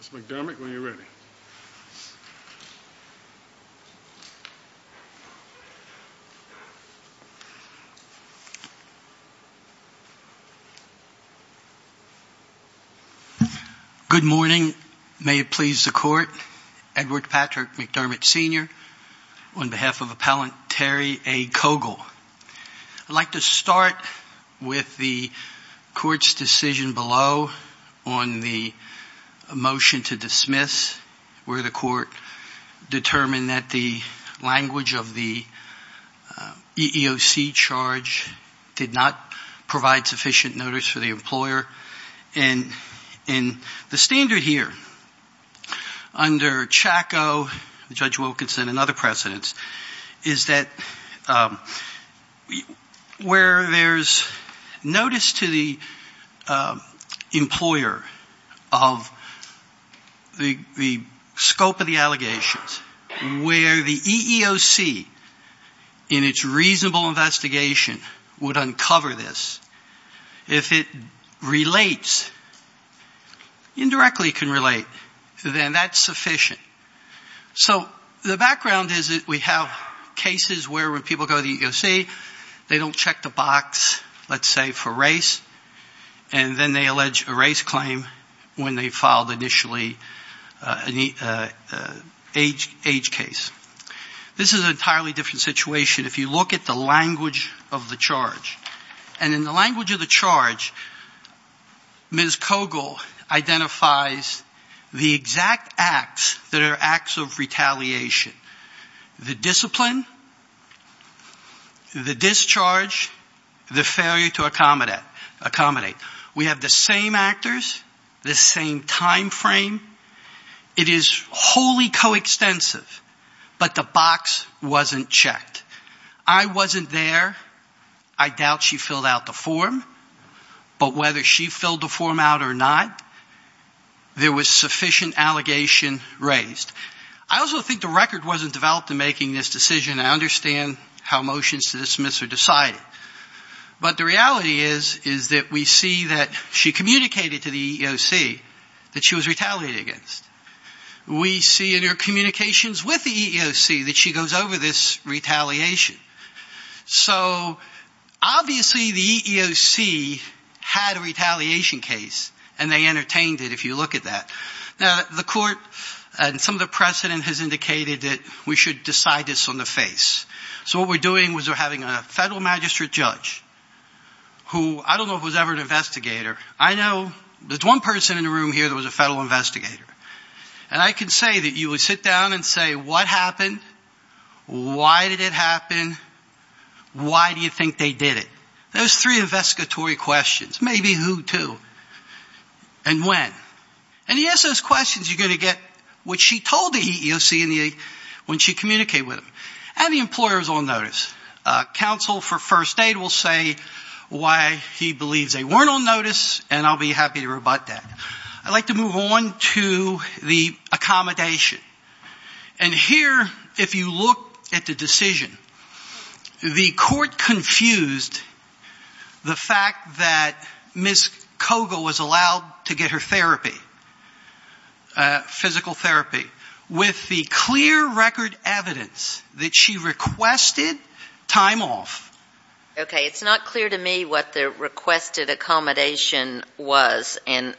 Mr. McDermott, when you're ready. Good morning. May it please the Court. Edward Patrick McDermott Sr., on behalf of Appellant Terry A. Cowgill. I'd like to start with the Court's decision below on the motion to dismiss, where the Court determined that the language of the EEOC charge did not provide sufficient notice for the employer. And the standard here, under Chaco, Judge Wilkinson, and other precedents, is that where there's notice to the employer of the scope of the allegations, where the EEOC, in its reasonable investigation, would uncover this, if it relates, indirectly can relate, then that's sufficient. So the background is that we have cases where, when people go to the EEOC, they don't check the box, let's say, for race, and then they allege a race claim when they filed initially an age case. This is an entirely different situation if you look at the language of the charge. And in the language of the charge, Ms. Cowgill identifies the exact acts that are acts of retaliation. The discipline, the discharge, the failure to accommodate. We have the same actors, the same time frame. It is wholly coextensive, but the box wasn't checked. I wasn't there. I doubt she filled out the form. But whether she filled the form out or not, there was sufficient allegation raised. I also think the record wasn't developed in making this decision. I understand how motions to dismiss are decided. But the reality is, is that we see that she communicated to the EEOC that she was retaliated against. We see in her communications with the EEOC that she goes over this retaliation. So obviously, the EEOC had a retaliation case, and they entertained it, if you look at that. Now, the court and some of the precedent has indicated that we should decide this on the face. So what we're doing is we're having a federal magistrate judge, who I don't know if it was ever an investigator. I know there's one person in the room here that was a federal investigator. And I can say that you would sit down and say, what happened? Why did it happen? Why do you think they did it? Those three investigatory questions. Maybe who, too? And when? And you ask those questions, you're going to get what she told the EEOC when she communicated with them. And the employer is on notice. Counsel for first aid will say why he believes they weren't on notice, and I'll be happy to rebut that. I'd like to move on to the accommodation. And here, if you look at the decision, the court confused the fact that Ms. Koga was allowed to get her therapy, physical therapy, with the clear record evidence that she requested time off. Okay. It's not clear to me what the requested accommodation was and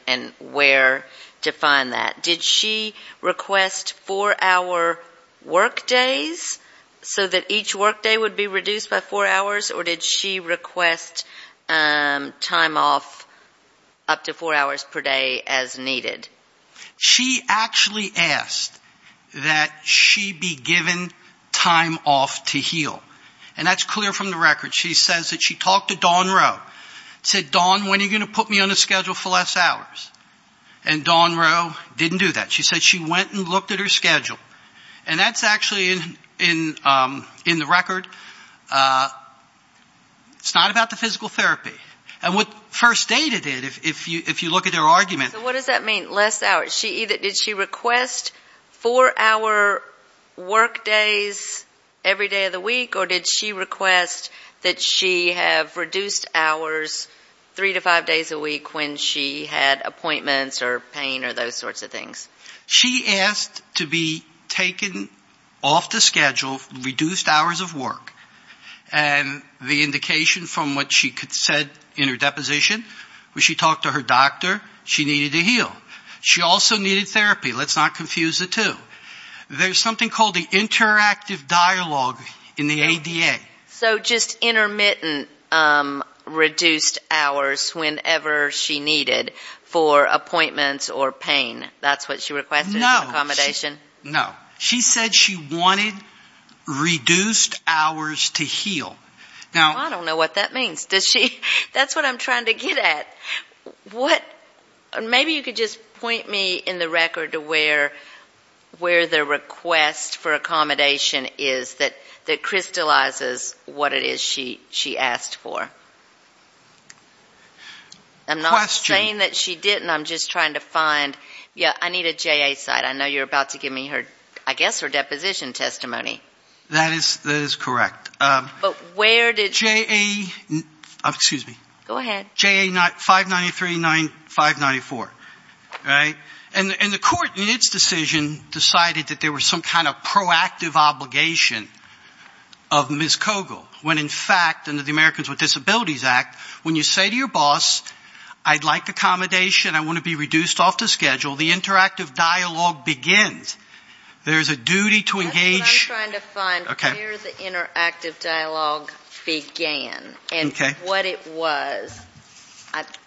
where to find that. Did she request four-hour work days so that each work day would be reduced by four hours? Or did she request time off up to four hours per day as needed? She actually asked that she be given time off to heal. And that's clear from the record. She says that she talked to Dawn Rowe, said, Dawn, when are you going to put me on a schedule for less hours? And Dawn Rowe didn't do that. She said she went and looked at her schedule. And that's actually in the record. It's not about the physical therapy. And what first aid did, if you look at their argument. So what does that mean, less hours? Did she request four-hour work days every day of the week? Or did she request that she have reduced hours three to five days a week when she had appointments or pain or those sorts of things? She asked to be taken off the schedule, reduced hours of work. And the indication from what she said in her deposition was she talked to her doctor. She needed to heal. She also needed therapy. Let's not confuse the two. There's something called the interactive dialogue in the ADA. So just intermittent reduced hours whenever she needed for appointments or pain. That's what she requested as accommodation? No. She said she wanted reduced hours to heal. I don't know what that means. That's what I'm trying to get at. Maybe you could just point me in the record to where the request for accommodation is that crystallizes what it is she asked for. I'm not saying that she didn't. I'm just trying to find. Yeah, I need a JA site. I know you're about to give me her, I guess, her deposition testimony. That is correct. But where did you? JA, excuse me. Go ahead. JA 5939, 594, right? And the court in its decision decided that there was some kind of proactive obligation of Ms. Kogel when, in fact, under the Americans with Disabilities Act, when you say to your boss, I'd like accommodation, I want to be reduced off the schedule, the interactive dialogue begins. There's a duty to engage. That's what I'm trying to find, where the interactive dialogue began and what it was.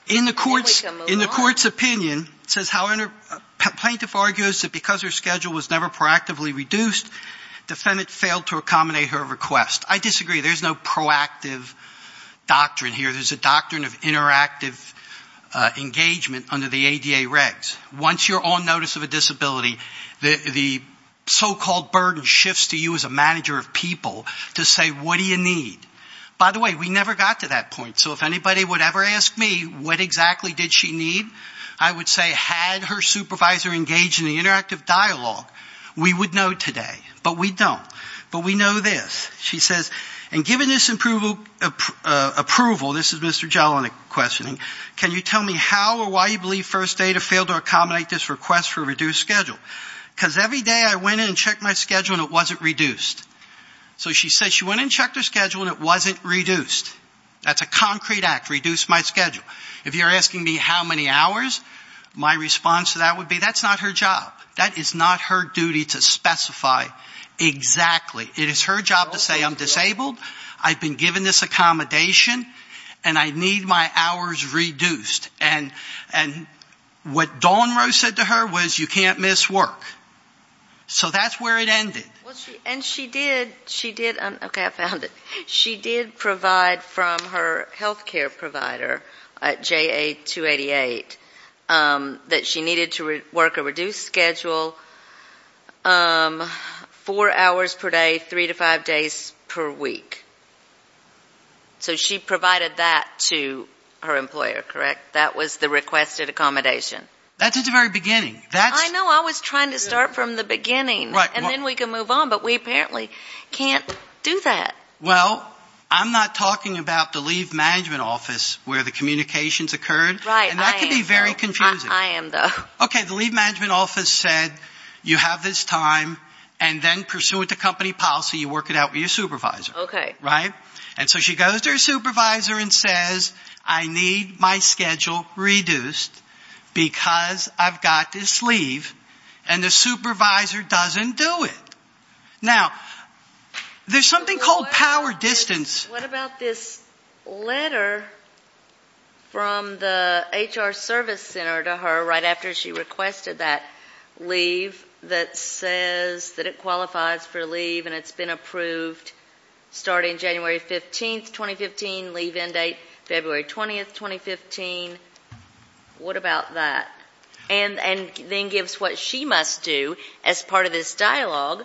In the court's opinion, it says plaintiff argues that because her schedule was never proactively reduced, defendant failed to accommodate her request. I disagree. There's no proactive doctrine here. There's a doctrine of interactive engagement under the ADA regs. Once you're on notice of a disability, the so-called burden shifts to you as a manager of people to say, what do you need? By the way, we never got to that point. So if anybody would ever ask me what exactly did she need, I would say had her supervisor engaged in the interactive dialogue, we would know today. But we don't. But we know this. She says, and given this approval, this is Mr. Jelinek questioning, can you tell me how or why you believe First Aid have failed to accommodate this request for a reduced schedule? Because every day I went in and checked my schedule and it wasn't reduced. So she says she went in and checked her schedule and it wasn't reduced. That's a concrete act, reduce my schedule. If you're asking me how many hours, my response to that would be that's not her job. That is not her duty to specify exactly. It is her job to say I'm disabled, I've been given this accommodation, and I need my hours reduced. And what Dawn Rose said to her was you can't miss work. So that's where it ended. Okay, I found it. She did provide from her health care provider, JA-288, that she needed to work a reduced schedule, four hours per day, three to five days per week. So she provided that to her employer, correct? That was the requested accommodation. That's at the very beginning. I was trying to start from the beginning. And then we can move on, but we apparently can't do that. Well, I'm not talking about the leave management office where the communications occurred. And that can be very confusing. I am, though. Okay, the leave management office said you have this time, and then pursuant to company policy, you work it out with your supervisor. Okay. Right? And so she goes to her supervisor and says I need my schedule reduced because I've got this leave. And the supervisor doesn't do it. Now, there's something called power distance. What about this letter from the HR service center to her right after she requested that leave that says that it qualifies for leave and it's been approved starting January 15th, 2015, leave end date February 20th, 2015? What about that? And then gives what she must do as part of this dialogue,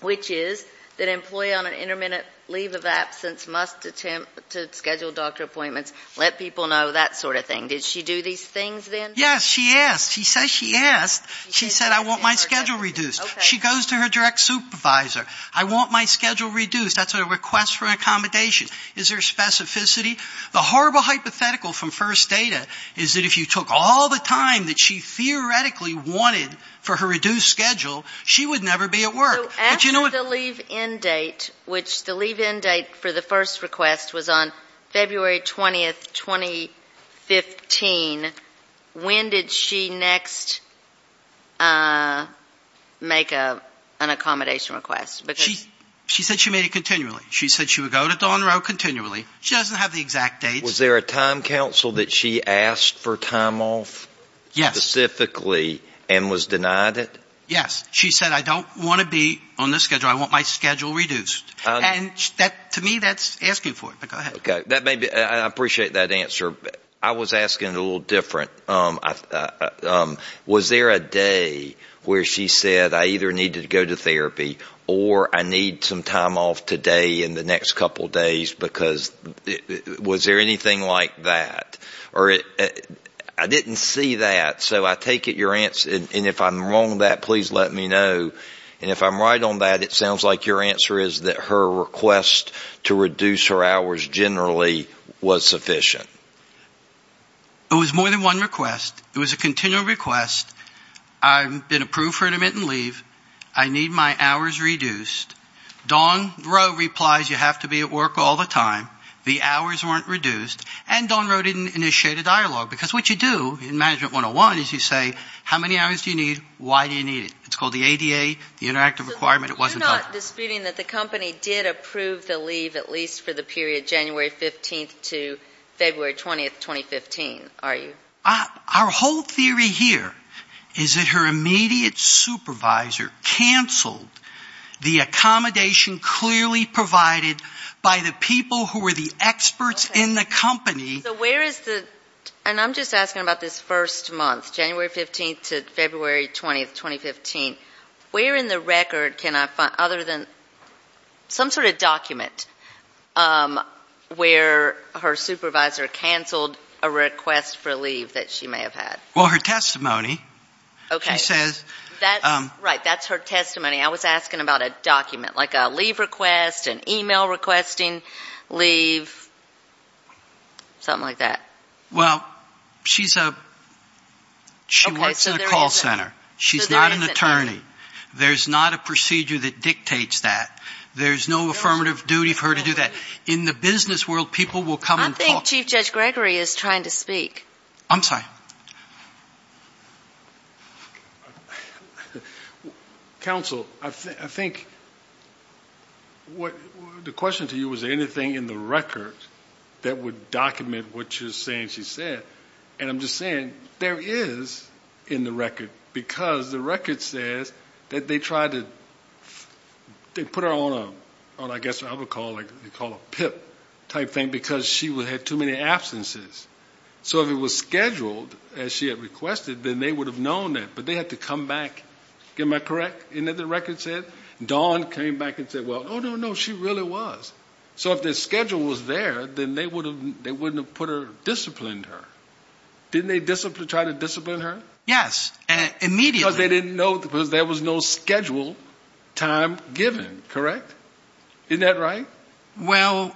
which is that employee on an intermittent leave of absence must attempt to schedule doctor appointments, let people know, that sort of thing. Did she do these things then? Yes, she asked. She says she asked. She said I want my schedule reduced. She goes to her direct supervisor. I want my schedule reduced. That's a request for accommodation. Is there specificity? The horrible hypothetical from first data is that if you took all the time that she theoretically wanted for her reduced schedule, she would never be at work. But you know what? So after the leave end date, which the leave end date for the first request was on February 20th, 2015, when did she next make an accommodation request? She said she made it continually. She said she would go to Dawn Row continually. She doesn't have the exact dates. Was there a time counsel that she asked for time off specifically and was denied it? Yes. She said I don't want to be on this schedule. I want my schedule reduced. And to me, that's asking for it. But go ahead. I appreciate that answer. I was asking a little different. Was there a day where she said I either need to go to therapy or I need some time off today in the next couple days because was there anything like that? I didn't see that. So I take it your answer, and if I'm wrong on that, please let me know. And if I'm right on that, it sounds like your answer is that her request to reduce her hours generally was sufficient. It was more than one request. It was a continual request. I've been approved for intermittent leave. I need my hours reduced. Dawn Row replies you have to be at work all the time. The hours weren't reduced. And Dawn Row didn't initiate a dialogue because what you do in Management 101 is you say how many hours do you need, why do you need it. It's called the ADA, the interactive requirement. You're not disputing that the company did approve the leave at least for the period January 15th to February 20th, 2015, are you? Our whole theory here is that her immediate supervisor canceled the accommodation clearly provided by the people who were the experts in the company. And I'm just asking about this first month, January 15th to February 20th, 2015. Where in the record can I find, other than some sort of document, where her supervisor canceled a request for leave that she may have had? Well, her testimony, she says. Right, that's her testimony. I was asking about a document, like a leave request, an email requesting leave, something like that. Well, she works in a call center. She's not an attorney. There's not a procedure that dictates that. There's no affirmative duty for her to do that. In the business world, people will come and talk. I think Chief Judge Gregory is trying to speak. I'm sorry. Counsel, I think the question to you was, is there anything in the record that would document what you're saying she said? And I'm just saying there is in the record, because the record says that they tried to put her on a, I guess what I would call a PIP type thing, because she had too many absences. So if it was scheduled, as she had requested, then they would have known that, but they had to come back. Am I correct in that the record said? Dawn came back and said, well, no, no, no, she really was. So if the schedule was there, then they wouldn't have put her, disciplined her. Didn't they try to discipline her? Yes, immediately. Because they didn't know, because there was no scheduled time given, correct? Isn't that right? Well.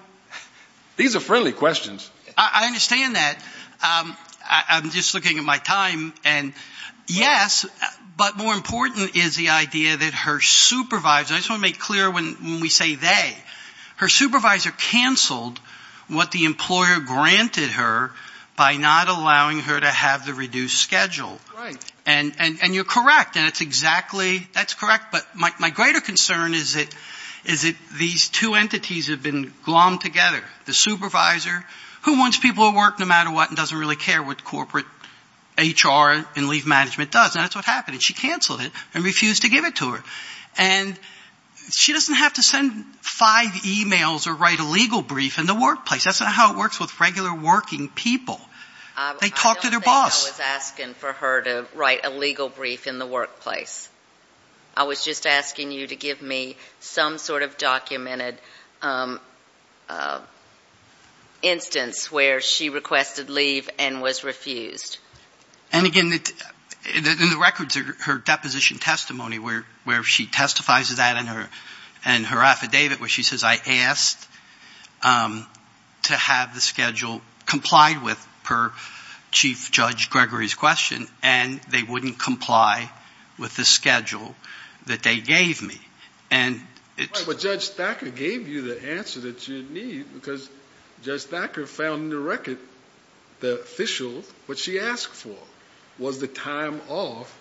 These are friendly questions. I understand that. I'm just looking at my time. And, yes, but more important is the idea that her supervisor, I just want to make clear when we say they, her supervisor canceled what the employer granted her by not allowing her to have the reduced schedule. Right. And you're correct. And it's exactly, that's correct. But my greater concern is that these two entities have been glommed together. The supervisor, who wants people to work no matter what and doesn't really care what corporate HR and leave management does. And that's what happened. She canceled it and refused to give it to her. And she doesn't have to send five emails or write a legal brief in the workplace. That's not how it works with regular working people. They talk to their boss. I don't think I was asking for her to write a legal brief in the workplace. I was just asking you to give me some sort of documented instance where she requested leave and was refused. And, again, in the records, her deposition testimony where she testifies to that and her affidavit where she says, I asked to have the schedule complied with per Chief Judge Gregory's question. And they wouldn't comply with the schedule that they gave me. But Judge Thacker gave you the answer that you need because Judge Thacker found in the record the official, what she asked for, was the time off,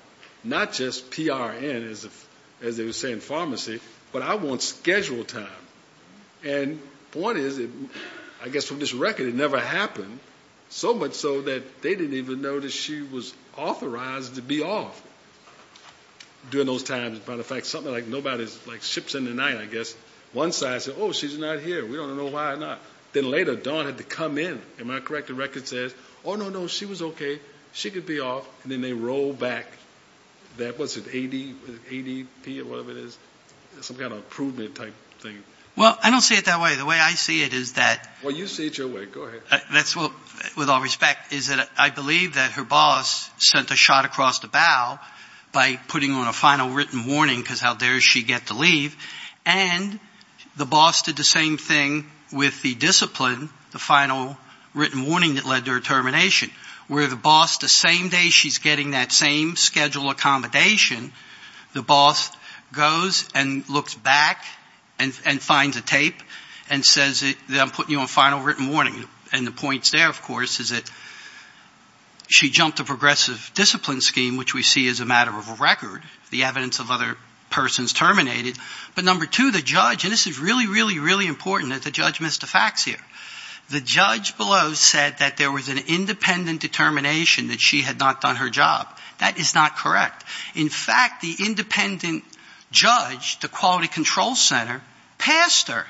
not just PRN, as they would say in pharmacy, but I want schedule time. And the point is, I guess from this record, it never happened. So much so that they didn't even know that she was authorized to be off during those times. As a matter of fact, something like nobody ships in at night, I guess. One side said, oh, she's not here. We don't know why or not. Then later Dawn had to come in. Am I correct in the record that says, oh, no, no, she was okay. She could be off. And then they roll back that, what's it, ADP or whatever it is? Some kind of improvement type thing. Well, I don't see it that way. The way I see it is that. Well, you see it your way. Go ahead. That's what, with all respect, is that I believe that her boss sent a shot across the bow by putting on a final written warning because how dare she get to leave. And the boss did the same thing with the discipline, the final written warning that led to her termination. Where the boss, the same day she's getting that same schedule accommodation, the boss goes and looks back and finds a tape and says, I'm putting you on final written warning. And the point there, of course, is that she jumped a progressive discipline scheme, which we see as a matter of a record. The evidence of other persons terminated. But number two, the judge, and this is really, really, really important that the judge missed the facts here. The judge below said that there was an independent determination that she had not done her job. That is not correct. In fact, the independent judge, the quality control center, passed her.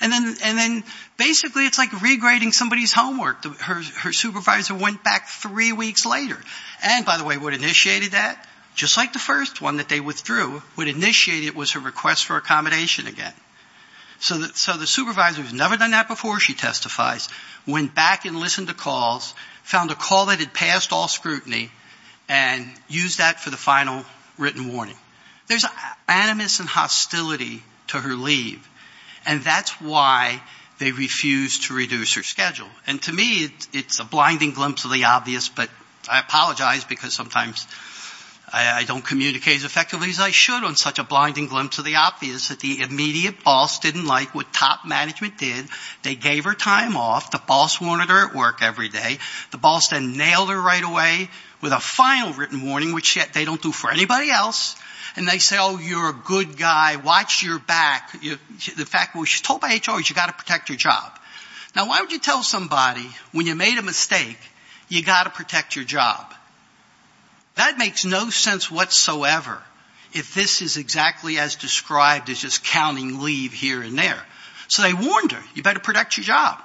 And then basically it's like regrading somebody's homework. Her supervisor went back three weeks later. And by the way, what initiated that? Just like the first one that they withdrew, what initiated it was her request for accommodation again. So the supervisor, who's never done that before, she testifies, went back and listened to calls, found a call that had passed all scrutiny, and used that for the final written warning. There's animus and hostility to her leave. And that's why they refused to reduce her schedule. And to me, it's a blinding glimpse of the obvious. But I apologize, because sometimes I don't communicate as effectively as I should on such a blinding glimpse of the obvious that the immediate boss didn't like what top management did. They gave her time off. The boss wanted her at work every day. The boss then nailed her right away with a final written warning, which they don't do for anybody else. And they say, oh, you're a good guy. Watch your back. The fact was she was told by HR, you've got to protect your job. Now, why would you tell somebody, when you made a mistake, you've got to protect your job? That makes no sense whatsoever, if this is exactly as described as just counting leave here and there. So they warned her, you better protect your job.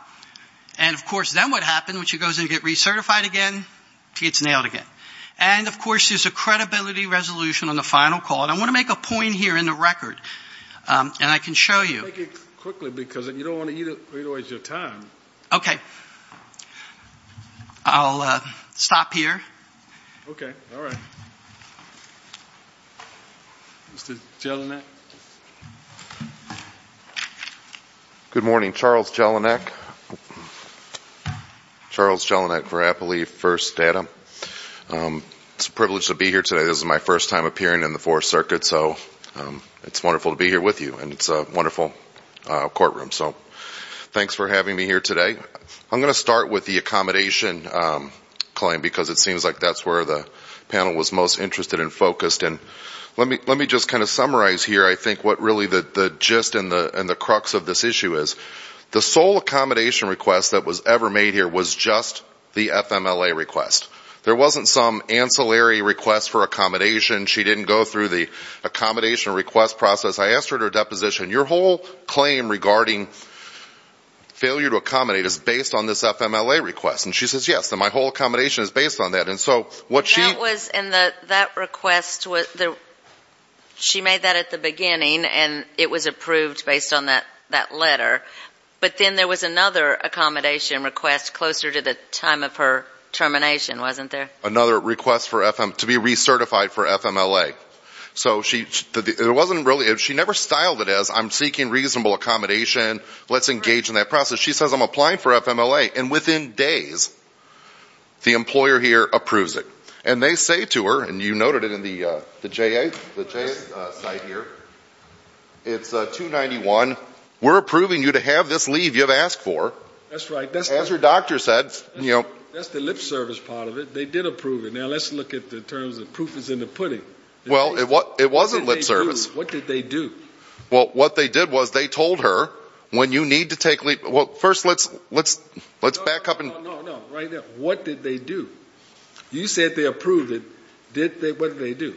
And, of course, then what happened, when she goes in to get recertified again, she gets nailed again. And, of course, there's a credibility resolution on the final call. And I want to make a point here in the record, and I can show you. Take it quickly, because you don't want to waste your time. Okay. I'll stop here. All right. Mr. Jelinek. Good morning, Charles Jelinek. Charles Jelinek for Appalachia First Data. It's a privilege to be here today. This is my first time appearing in the Fourth Circuit, so it's wonderful to be here with you. And it's a wonderful courtroom. So thanks for having me here today. I'm going to start with the accommodation claim, because it seems like that's where the panel was most interested and focused. And let me just kind of summarize here, I think, what really the gist and the crux of this issue is. The sole accommodation request that was ever made here was just the FMLA request. There wasn't some ancillary request for accommodation. She didn't go through the accommodation request process. I asked her at her deposition, your whole claim regarding failure to accommodate is based on this FMLA request. And she says, yes, and my whole accommodation is based on that. And so what she — That was in the — that request was — she made that at the beginning, and it was approved based on that letter. But then there was another accommodation request closer to the time of her termination, wasn't there? Another request for FM — to be recertified for FMLA. So she — it wasn't really — she never styled it as, I'm seeking reasonable accommodation, let's engage in that process. She says, I'm applying for FMLA. And within days, the employer here approves it. And they say to her, and you noted it in the JA site here, it's 291, we're approving you to have this leave you've asked for. That's right. As your doctor said, you know — That's the lip service part of it. They did approve it. Now let's look at the terms of proof is in the pudding. Well, it wasn't lip service. What did they do? Well, what they did was they told her, when you need to take leave — well, first let's back up and — No, no, no, no. Right now, what did they do? You said they approved it. What did they do?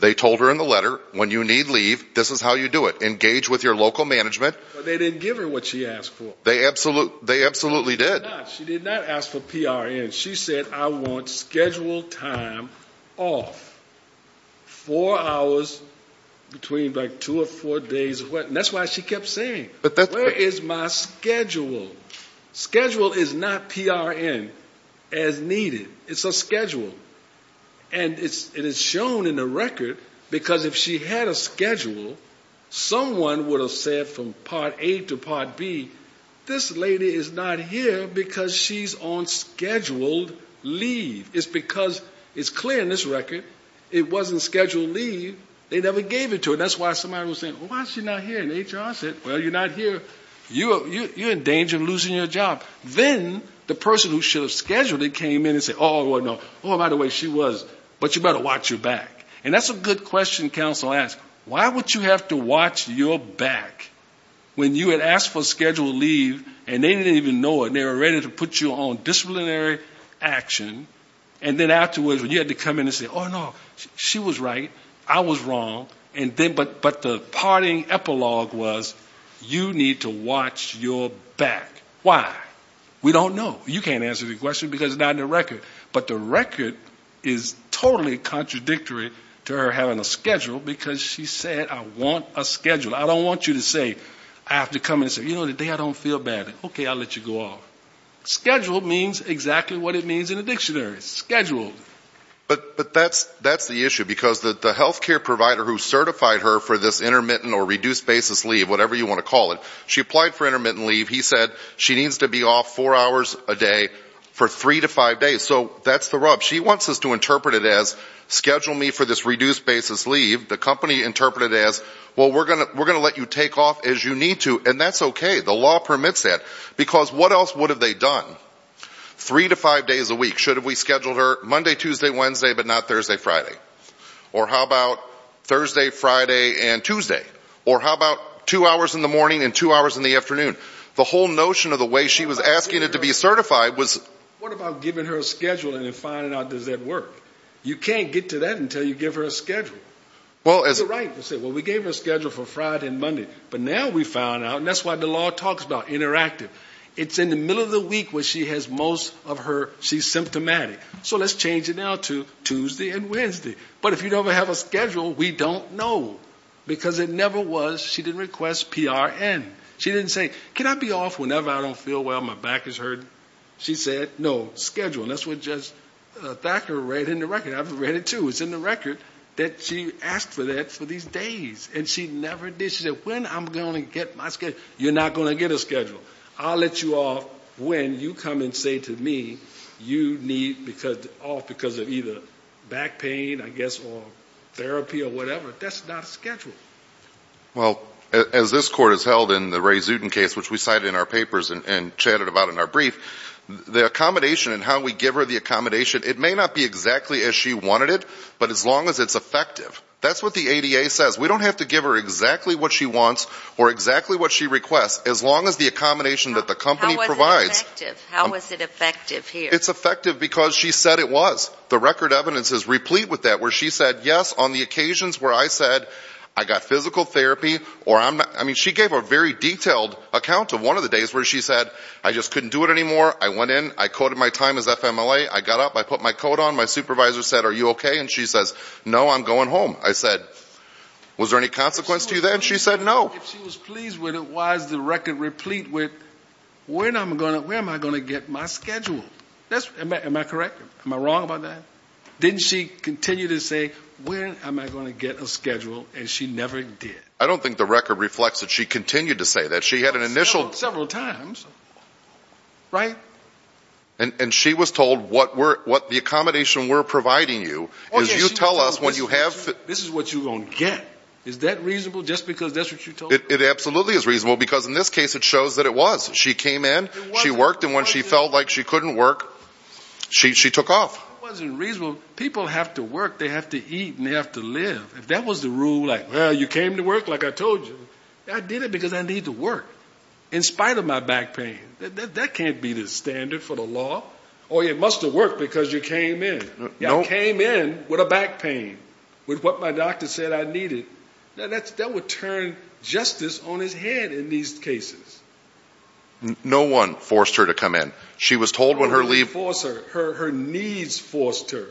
They told her in the letter, when you need leave, this is how you do it. Engage with your local management. But they didn't give her what she asked for. They absolutely did. She did not. She did not ask for PRN. She said, I want schedule time off. Four hours between, like, two or four days. That's why she kept saying, where is my schedule? Schedule is not PRN as needed. It's a schedule. And it is shown in the record, because if she had a schedule, someone would have said from part A to part B, this lady is not here because she's on scheduled leave. It's because it's clear in this record it wasn't scheduled leave. They never gave it to her. That's why somebody was saying, why is she not here? And HR said, well, you're not here. You're in danger of losing your job. Then the person who should have scheduled it came in and said, oh, by the way, she was. But you better watch your back. And that's a good question counsel asked. Why would you have to watch your back when you had asked for scheduled leave and they didn't even know it? They were ready to put you on disciplinary action. And then afterwards when you had to come in and say, oh, no, she was right, I was wrong, but the parting epilogue was, you need to watch your back. Why? We don't know. But the record is totally contradictory to her having a schedule because she said, I want a schedule. I don't want you to say, I have to come in and say, you know, today I don't feel bad. Okay, I'll let you go off. Schedule means exactly what it means in the dictionary, scheduled. But that's the issue because the health care provider who certified her for this intermittent or reduced basis leave, whatever you want to call it, she applied for intermittent leave. He said she needs to be off four hours a day for three to five days. So that's the rub. She wants us to interpret it as schedule me for this reduced basis leave. The company interpreted it as, well, we're going to let you take off as you need to. And that's okay. The law permits that. Because what else would have they done? Three to five days a week. Should have we scheduled her Monday, Tuesday, Wednesday, but not Thursday, Friday? Or how about Thursday, Friday, and Tuesday? Or how about two hours in the morning and two hours in the afternoon? The whole notion of the way she was asking it to be certified was... What about giving her a schedule and then finding out, does that work? You can't get to that until you give her a schedule. You're right. We gave her a schedule for Friday and Monday. But now we found out, and that's what the law talks about, interactive. It's in the middle of the week where she has most of her, she's symptomatic. So let's change it now to Tuesday and Wednesday. But if you don't have a schedule, we don't know. Because it never was, she didn't request PRN. She didn't say, can I be off whenever I don't feel well, my back is hurting? She said, no, schedule. And that's what the doctor read in the record. I've read it too. It's in the record that she asked for that for these days. And she never did. She said, when I'm going to get my schedule? You're not going to get a schedule. I'll let you off when you come and say to me you need off because of either back pain, I guess, or therapy or whatever. That's not a schedule. Well, as this court has held in the Ray Zuden case, which we cited in our papers and chatted about in our brief, the accommodation and how we give her the accommodation, it may not be exactly as she wanted it, but as long as it's effective. That's what the ADA says. We don't have to give her exactly what she wants or exactly what she requests, as long as the accommodation that the company provides. How is it effective here? It's effective because she said it was. The record evidence is replete with that, where she said, yes, on the occasions where I said, I got physical therapy or I'm not. I mean, she gave a very detailed account of one of the days where she said, I just couldn't do it anymore. I went in. I coded my time as FMLA. I got up. I put my coat on. My supervisor said, are you okay? And she says, no, I'm going home. I said, was there any consequence to you then? She said, no. If she was pleased with it, why is the record replete with, where am I going to get my schedule? Am I correct? Am I wrong about that? Didn't she continue to say, where am I going to get a schedule? And she never did. I don't think the record reflects that she continued to say that. She had an initial. Several times. Right? And she was told what the accommodation we're providing you is. You tell us what you have. This is what you're going to get. Is that reasonable, just because that's what you told her? It absolutely is reasonable, because in this case, it shows that it was. She came in. She worked. And when she felt like she couldn't work, she took off. It wasn't reasonable. People have to work. They have to eat and they have to live. If that was the rule, like, well, you came to work like I told you. I did it because I need to work. In spite of my back pain. That can't be the standard for the law. Or it must have worked because you came in. I came in with a back pain. With what my doctor said I needed. That would turn justice on its head in these cases. No one forced her to come in. She was told when her leave. No one forced her. Her needs forced her.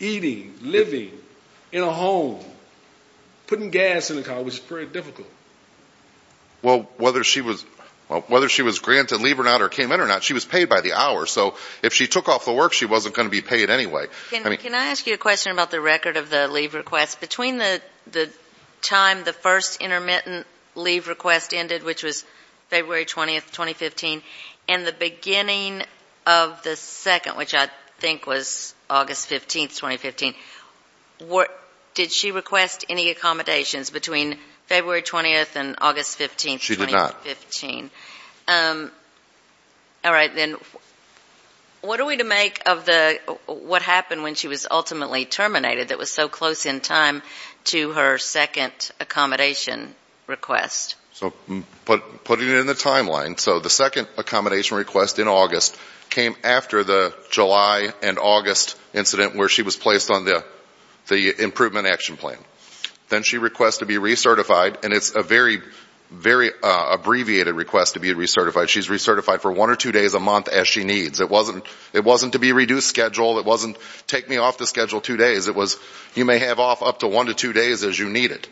Eating, living, in a home, putting gas in the car, which is very difficult. Well, whether she was granted leave or not or came in or not, she was paid by the hour. So if she took off the work, she wasn't going to be paid anyway. Can I ask you a question about the record of the leave request? Between the time the first intermittent leave request ended, which was February 20th, 2015, and the beginning of the second, which I think was August 15th, 2015, did she request any accommodations between February 20th and August 15th, 2015? She did not. All right. Then what are we to make of what happened when she was ultimately terminated that was so close in time to her second accommodation request? So putting it in the timeline, so the second accommodation request in August came after the July and August incident where she was placed on the improvement action plan. Then she requests to be recertified, and it's a very, very abbreviated request to be recertified. She's recertified for one or two days a month as she needs. It wasn't to be reduced schedule. It wasn't take me off the schedule two days. It was you may have off up to one to two days as you need it.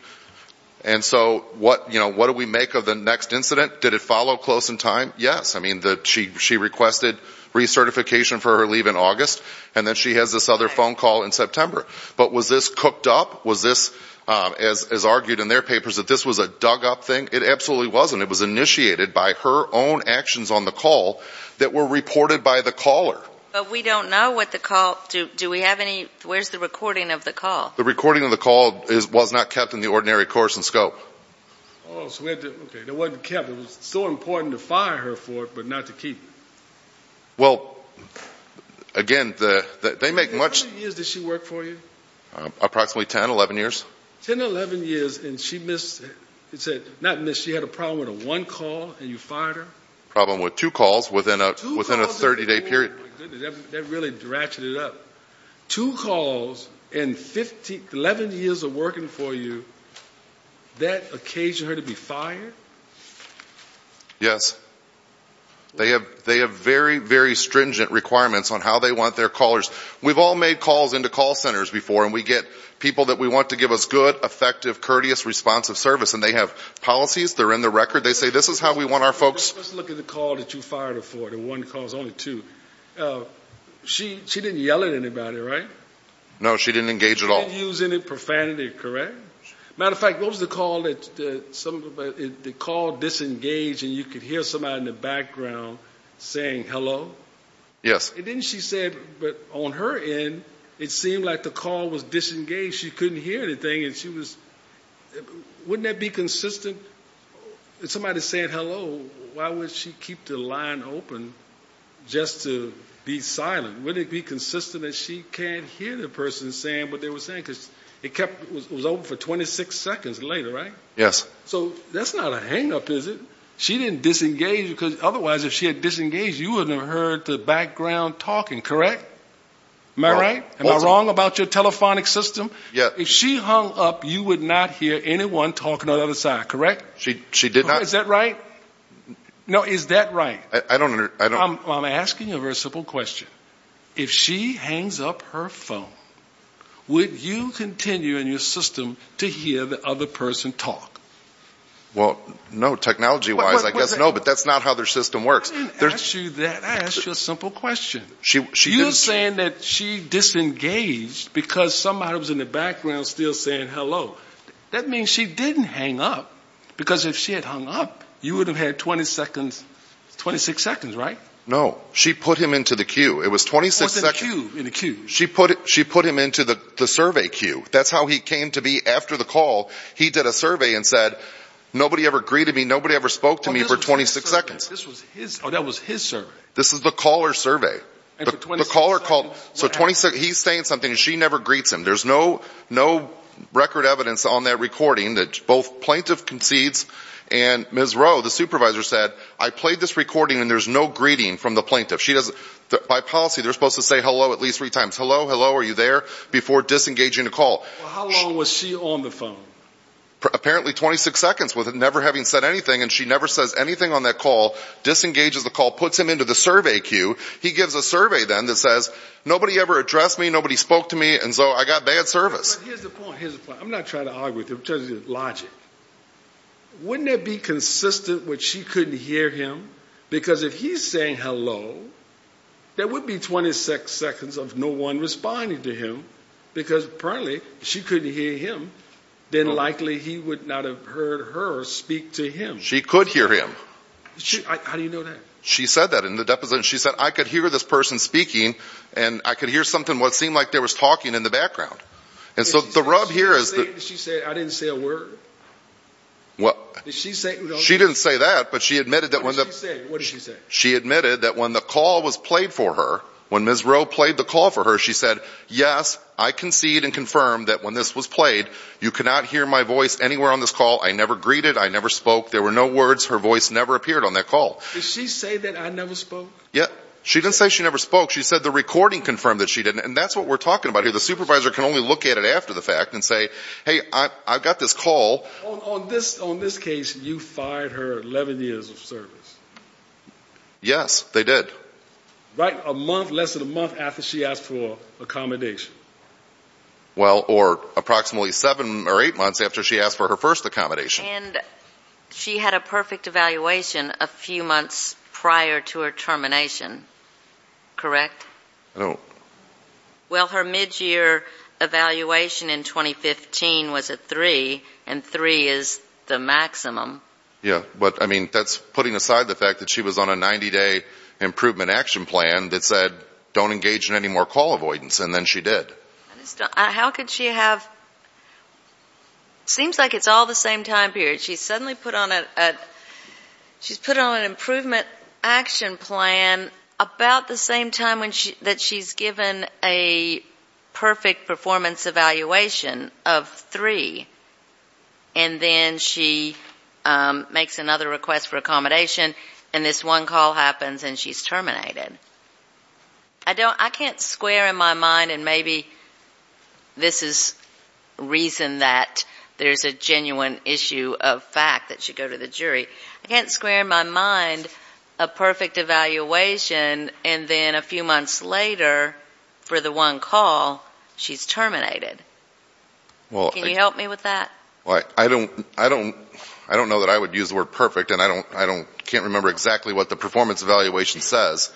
And so what do we make of the next incident? Did it follow close in time? Yes. I mean, she requested recertification for her leave in August, and then she has this other phone call in September. But was this cooked up? Was this, as argued in their papers, that this was a dug-up thing? It absolutely wasn't. It was initiated by her own actions on the call that were reported by the caller. But we don't know what the call do. Do we have any? Where's the recording of the call? The recording of the call was not kept in the ordinary course and scope. Okay. It wasn't kept. It was so important to fire her for it but not to keep it. Well, again, they make much of it. How many years did she work for you? Approximately 10, 11 years. 10, 11 years, and she missed it. Not missed. She had a problem with one call, and you fired her? Problem with two calls within a 30-day period. Oh, my goodness. That really ratcheted it up. Two calls and 11 years of working for you, that occasioned her to be fired? Yes. They have very, very stringent requirements on how they want their callers. We've all made calls into call centers before, and we get people that we want to give us good, effective, courteous, responsive service, and they have policies. They're in the record. They say this is how we want our folks. Let's look at the call that you fired her for, the one call, only two. She didn't yell at anybody, right? No, she didn't engage at all. She didn't use any profanity, correct? Matter of fact, what was the call that some of the call disengaged and you could hear somebody in the background saying hello? Yes. Then she said, but on her end, it seemed like the call was disengaged. She couldn't hear anything. Wouldn't that be consistent? If somebody said hello, why would she keep the line open just to be silent? Wouldn't it be consistent that she can't hear the person saying what they were saying? Because it was open for 26 seconds later, right? Yes. So that's not a hang-up, is it? She didn't disengage because otherwise if she had disengaged, you wouldn't have heard the background talking, correct? Am I right? Am I wrong about your telephonic system? Yes. If she hung up, you would not hear anyone talking on the other side, correct? She did not. Is that right? No, is that right? I don't understand. I'm asking a very simple question. If she hangs up her phone, would you continue in your system to hear the other person talk? Well, no, technology-wise, I guess no, but that's not how their system works. I didn't ask you that. I asked you a simple question. You're saying that she disengaged because somebody was in the background still saying hello. That means she didn't hang up because if she had hung up, you would have had 26 seconds, right? No. She put him into the queue. It was 26 seconds. What's in the queue? She put him into the survey queue. That's how he came to be after the call. He did a survey and said, nobody ever greeted me, nobody ever spoke to me for 26 seconds. Oh, that was his survey. This is the caller's survey. The caller called. So he's saying something and she never greets him. There's no record evidence on that recording that both plaintiff concedes and Ms. Roe, the supervisor, said, I played this recording and there's no greeting from the plaintiff. By policy, they're supposed to say hello at least three times. Hello, hello, are you there? Before disengaging the call. How long was she on the phone? Apparently 26 seconds with never having said anything and she never says anything on that call, disengages the call, puts him into the survey queue. He gives a survey then that says, nobody ever addressed me, nobody spoke to me, and so I got bad service. Here's the point. I'm not trying to argue with you. It's just logic. Wouldn't it be consistent when she couldn't hear him? Because if he's saying hello, there would be 26 seconds of no one responding to him because apparently she couldn't hear him. Then likely he would not have heard her speak to him. She could hear him. How do you know that? She said that in the deposition. She said, I could hear this person speaking and I could hear something that seemed like there was talking in the background. And so the rub here is that. She said I didn't say a word? What? Did she say? She didn't say that, but she admitted that when the. What did she say? She admitted that when the call was played for her, when Ms. Roe played the call for her, she said, yes, I concede and confirm that when this was played, you cannot hear my voice anywhere on this call. I never greeted. I never spoke. There were no words. Her voice never appeared on that call. Did she say that? I never spoke. Yeah, she didn't say she never spoke. She said the recording confirmed that she didn't. And that's what we're talking about here. The supervisor can only look at it after the fact and say, hey, I've got this call on this. On this case, you fired her 11 years of service. Yes, they did. Right a month, less than a month after she asked for accommodation. Well, or approximately seven or eight months after she asked for her first accommodation. And she had a perfect evaluation a few months prior to her termination, correct? No. Well, her midyear evaluation in 2015 was a three, and three is the maximum. Yeah, but, I mean, that's putting aside the fact that she was on a 90-day improvement action plan that said don't engage in any more call avoidance, and then she did. How could she have? It seems like it's all the same time period. She's suddenly put on an improvement action plan about the same time that she's given a perfect performance evaluation of three. And then she makes another request for accommodation, and this one call happens, and she's terminated. I can't square in my mind, and maybe this is reason that there's a genuine issue of fact that should go to the jury. I can't square in my mind a perfect evaluation, and then a few months later, for the one call, she's terminated. Can you help me with that? I don't know that I would use the word perfect, and I can't remember exactly what the performance evaluation says.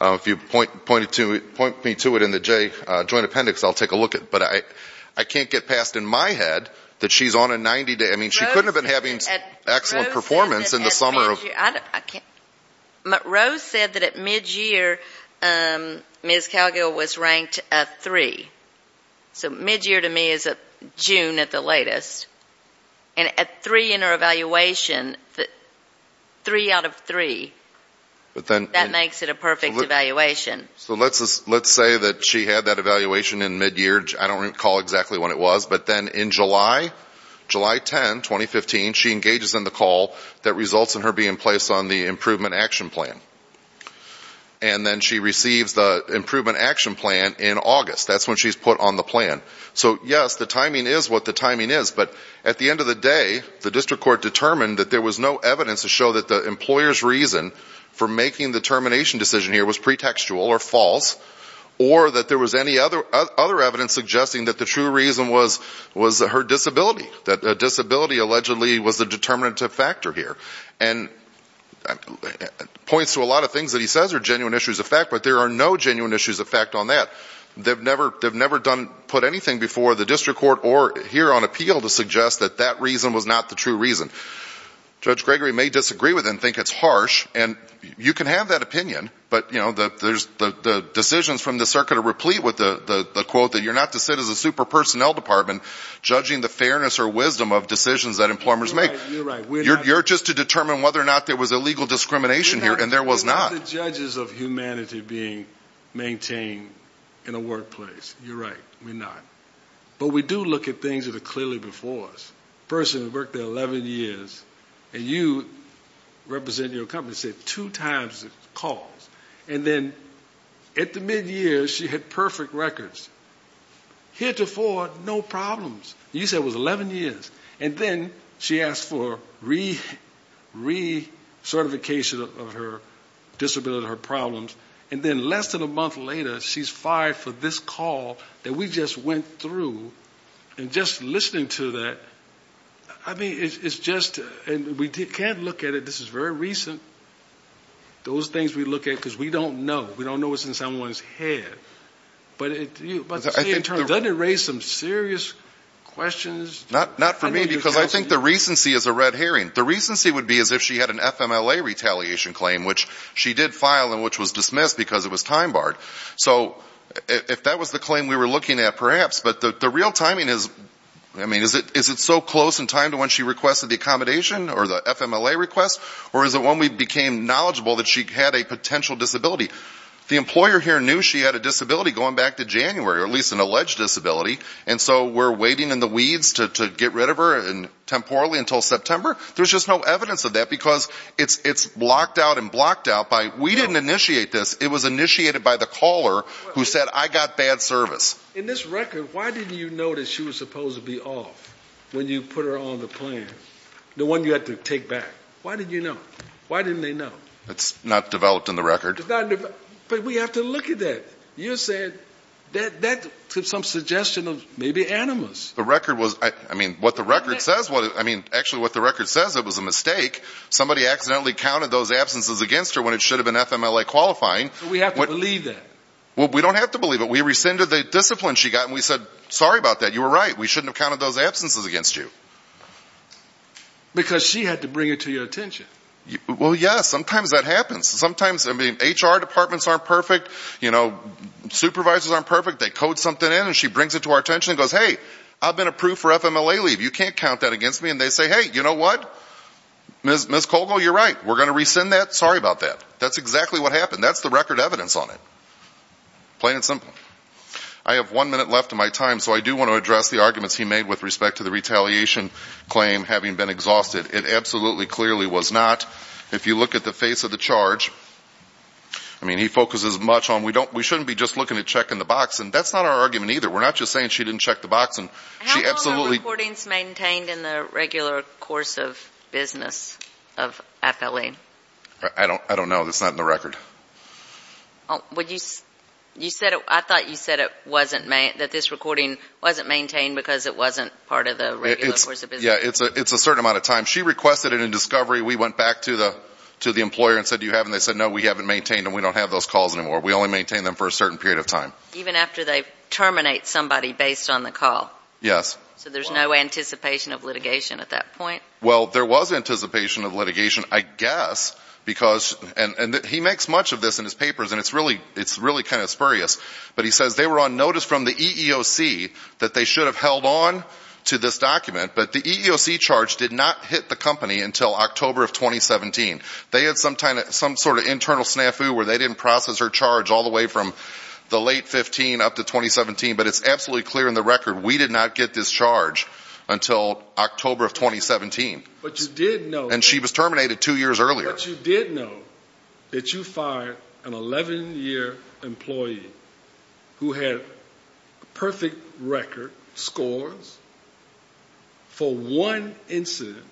If you point me to it in the Joint Appendix, I'll take a look at it. But I can't get past in my head that she's on a 90-day. I mean, she couldn't have been having excellent performance in the summer. Rose said that at mid-year, Ms. Calgill was ranked a three. So mid-year to me is June at the latest. And a three in her evaluation, three out of three, that makes it a perfect evaluation. So let's say that she had that evaluation in mid-year. I don't recall exactly when it was. But then in July, July 10, 2015, she engages in the call that results in her being placed on the Improvement Action Plan. And then she receives the Improvement Action Plan in August. That's when she's put on the plan. So, yes, the timing is what the timing is. But at the end of the day, the district court determined that there was no evidence to show that the employer's reason for making the termination decision here was pretextual or false. Or that there was any other evidence suggesting that the true reason was her disability. That disability allegedly was the determinative factor here. And it points to a lot of things that he says are genuine issues of fact, but there are no genuine issues of fact on that. They've never put anything before the district court or here on appeal to suggest that that reason was not the true reason. Judge Gregory may disagree with it and think it's harsh. And you can have that opinion, but, you know, the decisions from the circuit are replete with the quote that you're not to sit as a super personnel department judging the fairness or wisdom of decisions that employers make. You're right. You're just to determine whether or not there was illegal discrimination here, and there was not. We're not the judges of humanity being maintained in a workplace. You're right. We're not. But we do look at things that are clearly before us. A person who worked there 11 years, and you represent your company, said two times the calls. And then at the mid-year, she had perfect records. Here to four, no problems. You said it was 11 years. And then she asked for re-certification of her disability, her problems. And then less than a month later, she's fired for this call that we just went through. And just listening to that, I mean, it's just we can't look at it. This is very recent. Those things we look at because we don't know. We don't know what's in someone's head. But doesn't it raise some serious questions? Not for me because I think the recency is a red herring. The recency would be as if she had an FMLA retaliation claim, which she did file and which was dismissed because it was time-barred. So if that was the claim we were looking at, perhaps. But the real timing is, I mean, is it so close in time to when she requested the accommodation or the FMLA request? Or is it when we became knowledgeable that she had a potential disability? The employer here knew she had a disability going back to January, or at least an alleged disability. And so we're waiting in the weeds to get rid of her temporally until September? There's just no evidence of that because it's blocked out and blocked out by we didn't initiate this. It was initiated by the caller who said I got bad service. In this record, why didn't you know that she was supposed to be off when you put her on the plan, the one you had to take back? Why didn't you know? Why didn't they know? It's not developed in the record. But we have to look at that. You said that to some suggestion of maybe animus. The record was, I mean, what the record says, I mean, actually what the record says, it was a mistake. Somebody accidentally counted those absences against her when it should have been FMLA qualifying. We have to believe that. Well, we don't have to believe it. We rescinded the discipline she got, and we said, sorry about that. You were right. We shouldn't have counted those absences against you. Because she had to bring it to your attention. Well, yes. Sometimes that happens. Sometimes, I mean, HR departments aren't perfect. Supervisors aren't perfect. They code something in, and she brings it to our attention and goes, hey, I've been approved for FMLA leave. You can't count that against me. And they say, hey, you know what? Ms. Colgill, you're right. We're going to rescind that. Sorry about that. That's exactly what happened. That's the record evidence on it. Plain and simple. I have one minute left of my time, so I do want to address the arguments he made with respect to the retaliation claim having been exhausted. It absolutely clearly was not. If you look at the face of the charge, I mean, he focuses much on we shouldn't be just looking at checking the box, and that's not our argument either. We're not just saying she didn't check the box. How long are recordings maintained in the regular course of business of FLA? I don't know. It's not in the record. I thought you said that this recording wasn't maintained because it wasn't part of the regular course of business. Yeah, it's a certain amount of time. She requested it in discovery. We went back to the employer and said, do you have it? And they said, no, we haven't maintained it, and we don't have those calls anymore. We only maintain them for a certain period of time. Even after they terminate somebody based on the call? Yes. So there's no anticipation of litigation at that point? Well, there was anticipation of litigation, I guess, because he makes much of this in his papers, and it's really kind of spurious, but he says they were on notice from the EEOC that they should have held on to this document, but the EEOC charge did not hit the company until October of 2017. They had some sort of internal snafu where they didn't process her charge all the way from the late 15 up to 2017, but it's absolutely clear in the record we did not get this charge until October of 2017. And she was terminated two years earlier. But you did know that you fired an 11-year employee who had perfect record scores for one incident,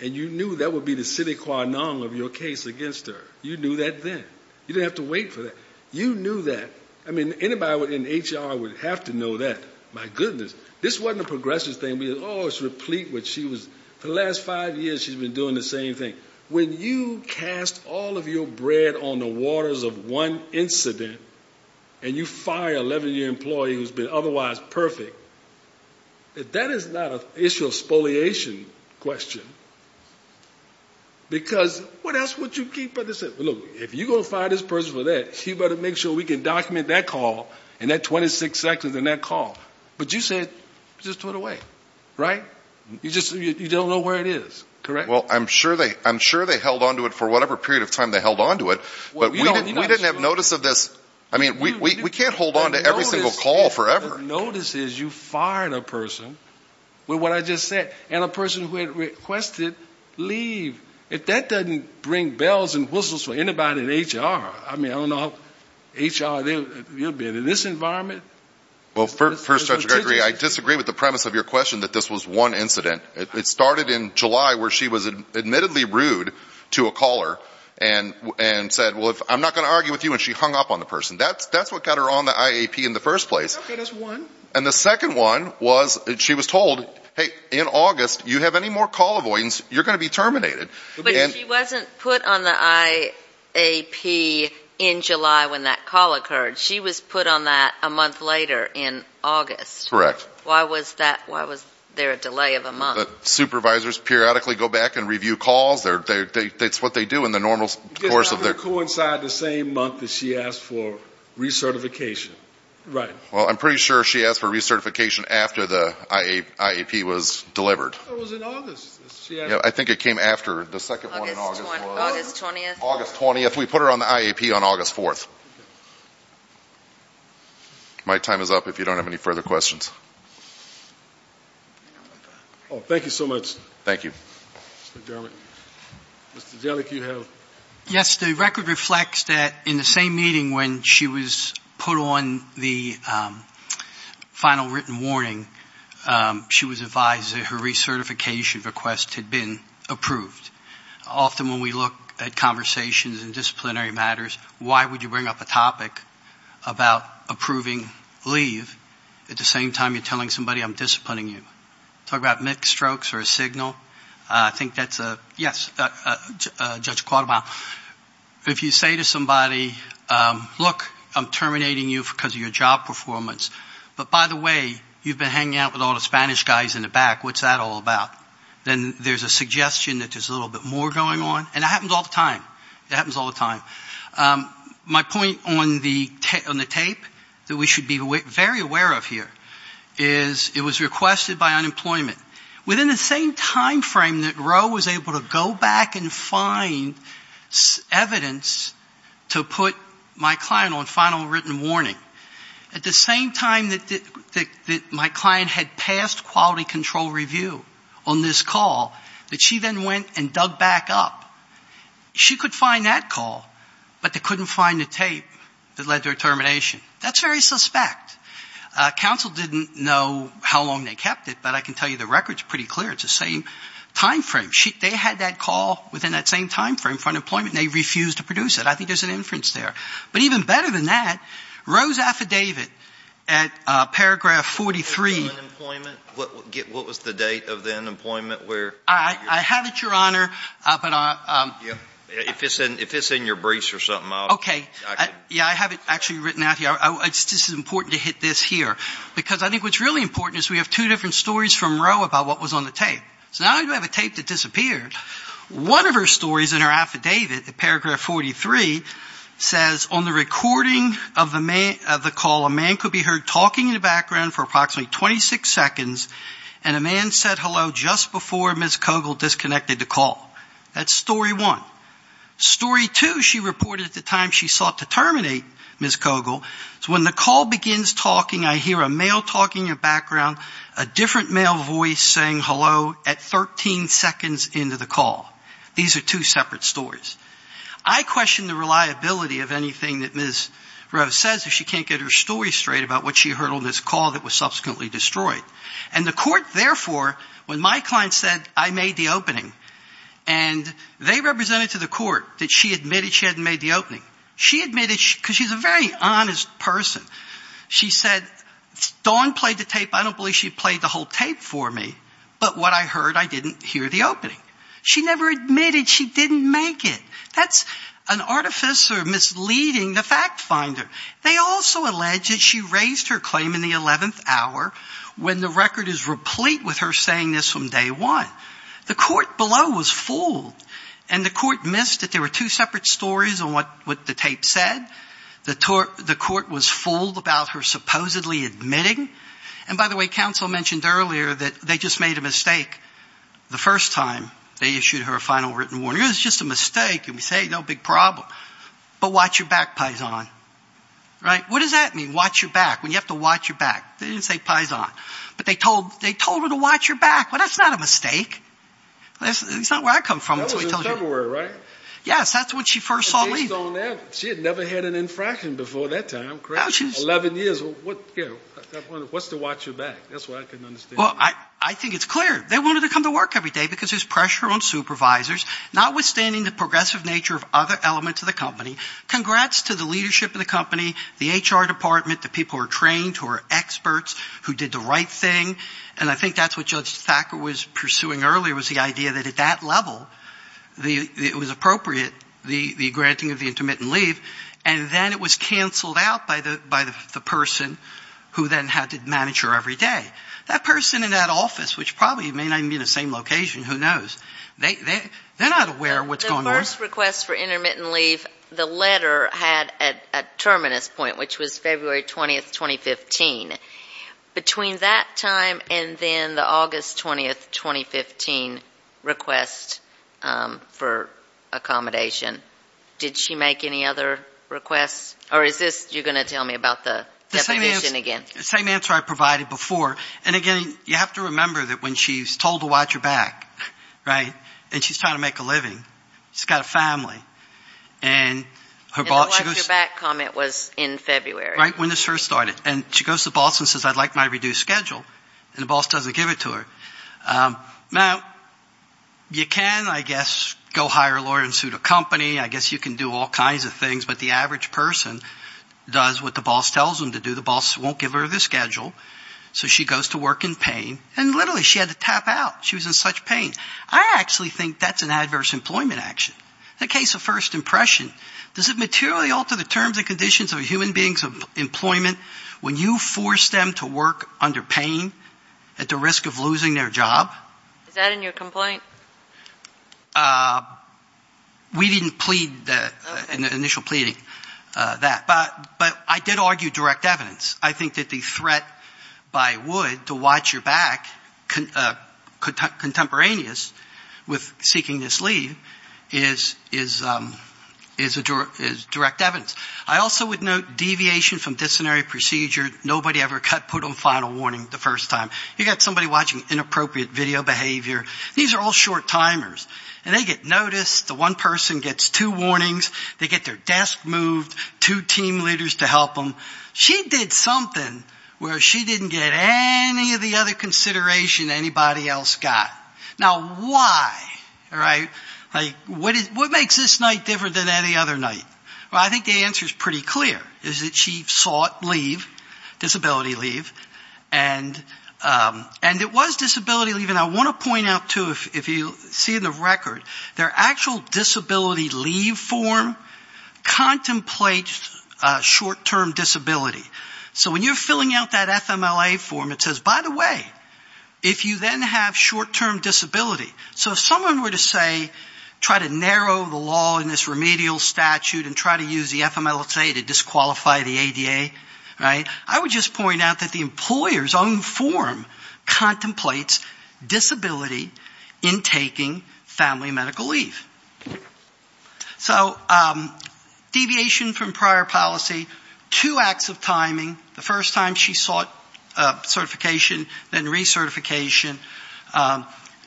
and you knew that would be the sine qua non of your case against her. You knew that then. You didn't have to wait for that. You knew that. I mean, anybody in HR would have to know that. My goodness. This wasn't a progressive thing. For the last five years she's been doing the same thing. When you cast all of your bread on the waters of one incident, and you fire an 11-year employee who's been otherwise perfect, that is not an issue of spoliation question. Because what else would you keep? Look, if you're going to fire this person for that, you better make sure we can document that call and that 26 seconds in that call. But you said just throw it away, right? You just don't know where it is, correct? Well, I'm sure they held on to it for whatever period of time they held on to it. But we didn't have notice of this. I mean, we can't hold on to every single call forever. The notice is you fired a person with what I just said, and a person who had requested leave. If that doesn't bring bells and whistles for anybody in HR, I mean, I don't know how HR will be in this environment. Well, first, Dr. Gregory, I disagree with the premise of your question that this was one incident. It started in July where she was admittedly rude to a caller and said, well, I'm not going to argue with you, and she hung up on the person. That's what got her on the IAP in the first place. Okay, that's one. And the second one was she was told, hey, in August, you have any more call avoidance, you're going to be terminated. But she wasn't put on the IAP in July when that call occurred. She was put on that a month later in August. Correct. Why was that? Why was there a delay of a month? Supervisors periodically go back and review calls. That's what they do in the normal course of their ‑‑ I think it coincided the same month that she asked for recertification. Right. Well, I'm pretty sure she asked for recertification after the IAP was delivered. I thought it was in August. I think it came after. The second one in August was? August 20th. August 20th. We put her on the IAP on August 4th. My time is up if you don't have any further questions. Thank you so much. Thank you. Mr. Dermott. Mr. Jellick, you have? Yes, the record reflects that in the same meeting when she was put on the final written warning, she was advised that her recertification request had been approved. Often when we look at conversations and disciplinary matters, why would you bring up a topic about approving leave at the same time you're telling somebody I'm disciplining you? Talk about mixed strokes or a signal? I think that's a ‑‑ yes, Judge Quartermile. If you say to somebody, look, I'm terminating you because of your job performance, but by the way, you've been hanging out with all the Spanish guys in the back. What's that all about? Then there's a suggestion that there's a little bit more going on. And that happens all the time. It happens all the time. My point on the tape that we should be very aware of here is it was requested by unemployment. Within the same timeframe that Roe was able to go back and find evidence to put my client on final written warning, at the same time that my client had passed quality control review on this call, that she then went and dug back up, she could find that call, but they couldn't find the tape that led to her termination. That's very suspect. Counsel didn't know how long they kept it, but I can tell you the record's pretty clear. It's the same timeframe. They had that call within that same timeframe for unemployment, and they refused to produce it. I think there's an inference there. But even better than that, Roe's affidavit at paragraph 43. What was the date of the unemployment? I have it, Your Honor. If it's in your briefs or something. Okay. Yeah, I have it actually written out here. It's just important to hit this here, because I think what's really important is we have two different stories from Roe about what was on the tape. So now I have a tape that disappeared. One of her stories in her affidavit at paragraph 43 says, on the recording of the call, a man could be heard talking in the background for approximately 26 seconds, and a man said hello just before Ms. Kogel disconnected the call. That's story one. Story two, she reported at the time she sought to terminate Ms. Kogel, is when the call begins talking, I hear a male talking in the background, a different male voice saying hello at 13 seconds into the call. These are two separate stories. I question the reliability of anything that Ms. Roe says, if she can't get her story straight about what she heard on this call that was subsequently destroyed. And the court therefore, when my client said, I made the opening, and they represented to the court that she admitted she hadn't made the opening. She admitted, because she's a very honest person, she said, Dawn played the tape, I don't believe she played the whole tape for me, but what I heard, I didn't hear the opening. She never admitted she didn't make it. That's an artificer misleading the fact finder. They also allege that she raised her claim in the 11th hour, when the record is replete with her saying this from day one. The court below was fooled. And the court missed that there were two separate stories on what the tape said. The court was fooled about her supposedly admitting. And by the way, counsel mentioned earlier that they just made a mistake the first time they issued her a final written warning. It was just a mistake. And we say, no big problem. But watch your back, Pison. Right? What does that mean, watch your back? When you have to watch your back? They didn't say Pison. But they told her to watch your back. Well, that's not a mistake. That's not where I come from. That was in February, right? Yes, that's when she first saw me. She had never had an infraction before that time, correct? Eleven years. What's to watch your back? That's what I couldn't understand. Well, I think it's clear. They wanted her to come to work every day because there's pressure on supervisors. Notwithstanding the progressive nature of other elements of the company, congrats to the leadership of the company, the HR department, the people who are trained, who are experts, who did the right thing. And I think that's what Judge Thacker was pursuing earlier was the idea that at that level, it was appropriate, the granting of the intermittent leave. And then it was canceled out by the person who then had to manage her every day. That person in that office, which probably may not even be in the same location, who knows. They're not aware of what's going on. The first request for intermittent leave, the letter had a terminus point, which was February 20, 2015. Between that time and then the August 20, 2015 request for accommodation, did she make any other requests? Or is this you're going to tell me about the definition again? The same answer I provided before. And, again, you have to remember that when she's told to watch her back, right, and she's trying to make a living, she's got a family, and her boss goes to her. And the watch your back comment was in February. Right when this first started. And she goes to the boss and says, I'd like my reduced schedule. And the boss doesn't give it to her. Now, you can, I guess, go hire a lawyer and suit a company. I guess you can do all kinds of things. But the average person does what the boss tells them to do. The boss won't give her the schedule. So she goes to work in pain. And, literally, she had to tap out. She was in such pain. I actually think that's an adverse employment action. In the case of first impression, does it materially alter the terms and conditions of a human being's employment when you force them to work under pain at the risk of losing their job? Is that in your complaint? We didn't plead, in the initial pleading, that. But I did argue direct evidence. I think that the threat by Wood to watch your back, contemporaneous with seeking this leave, is direct evidence. I also would note deviation from disciplinary procedure. Nobody ever put on final warning the first time. You've got somebody watching inappropriate video behavior. These are all short timers. And they get noticed. The one person gets two warnings. They get their desk moved. Two team leaders to help them. She did something where she didn't get any of the other consideration anybody else got. Now, why? All right? Like, what makes this night different than any other night? Well, I think the answer is pretty clear. It's that she sought leave, disability leave. And it was disability leave. And I want to point out, too, if you see in the record, their actual disability leave form contemplates short-term disability. So when you're filling out that FMLA form, it says, by the way, if you then have short-term disability. So if someone were to say, try to narrow the law in this remedial statute and try to use the FMLA to disqualify the ADA, right, I would just point out that the employer's own form contemplates disability in taking family medicine. So deviation from prior policy, two acts of timing, the first time she sought certification, then recertification,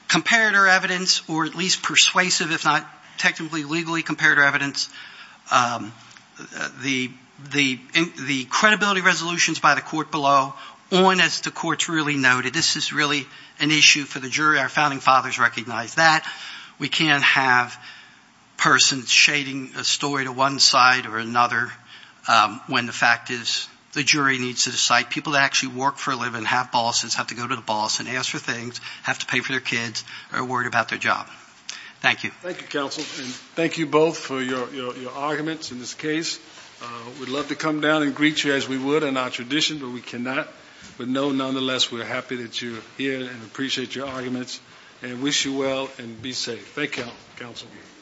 compared her evidence, or at least persuasive, if not technically, legally compared her evidence. The credibility resolutions by the court below, on as the courts really noted. This is really an issue for the jury. Our founding fathers recognized that. We can't have persons shading a story to one side or another when the fact is the jury needs to decide. People that actually work for a living, have bosses, have to go to the boss and ask for things, have to pay for their kids, are worried about their job. Thank you. Thank you, counsel, and thank you both for your arguments in this case. We'd love to come down and greet you as we would in our tradition, but we cannot. But no, nonetheless, we're happy that you're here and appreciate your arguments and wish you well and be safe.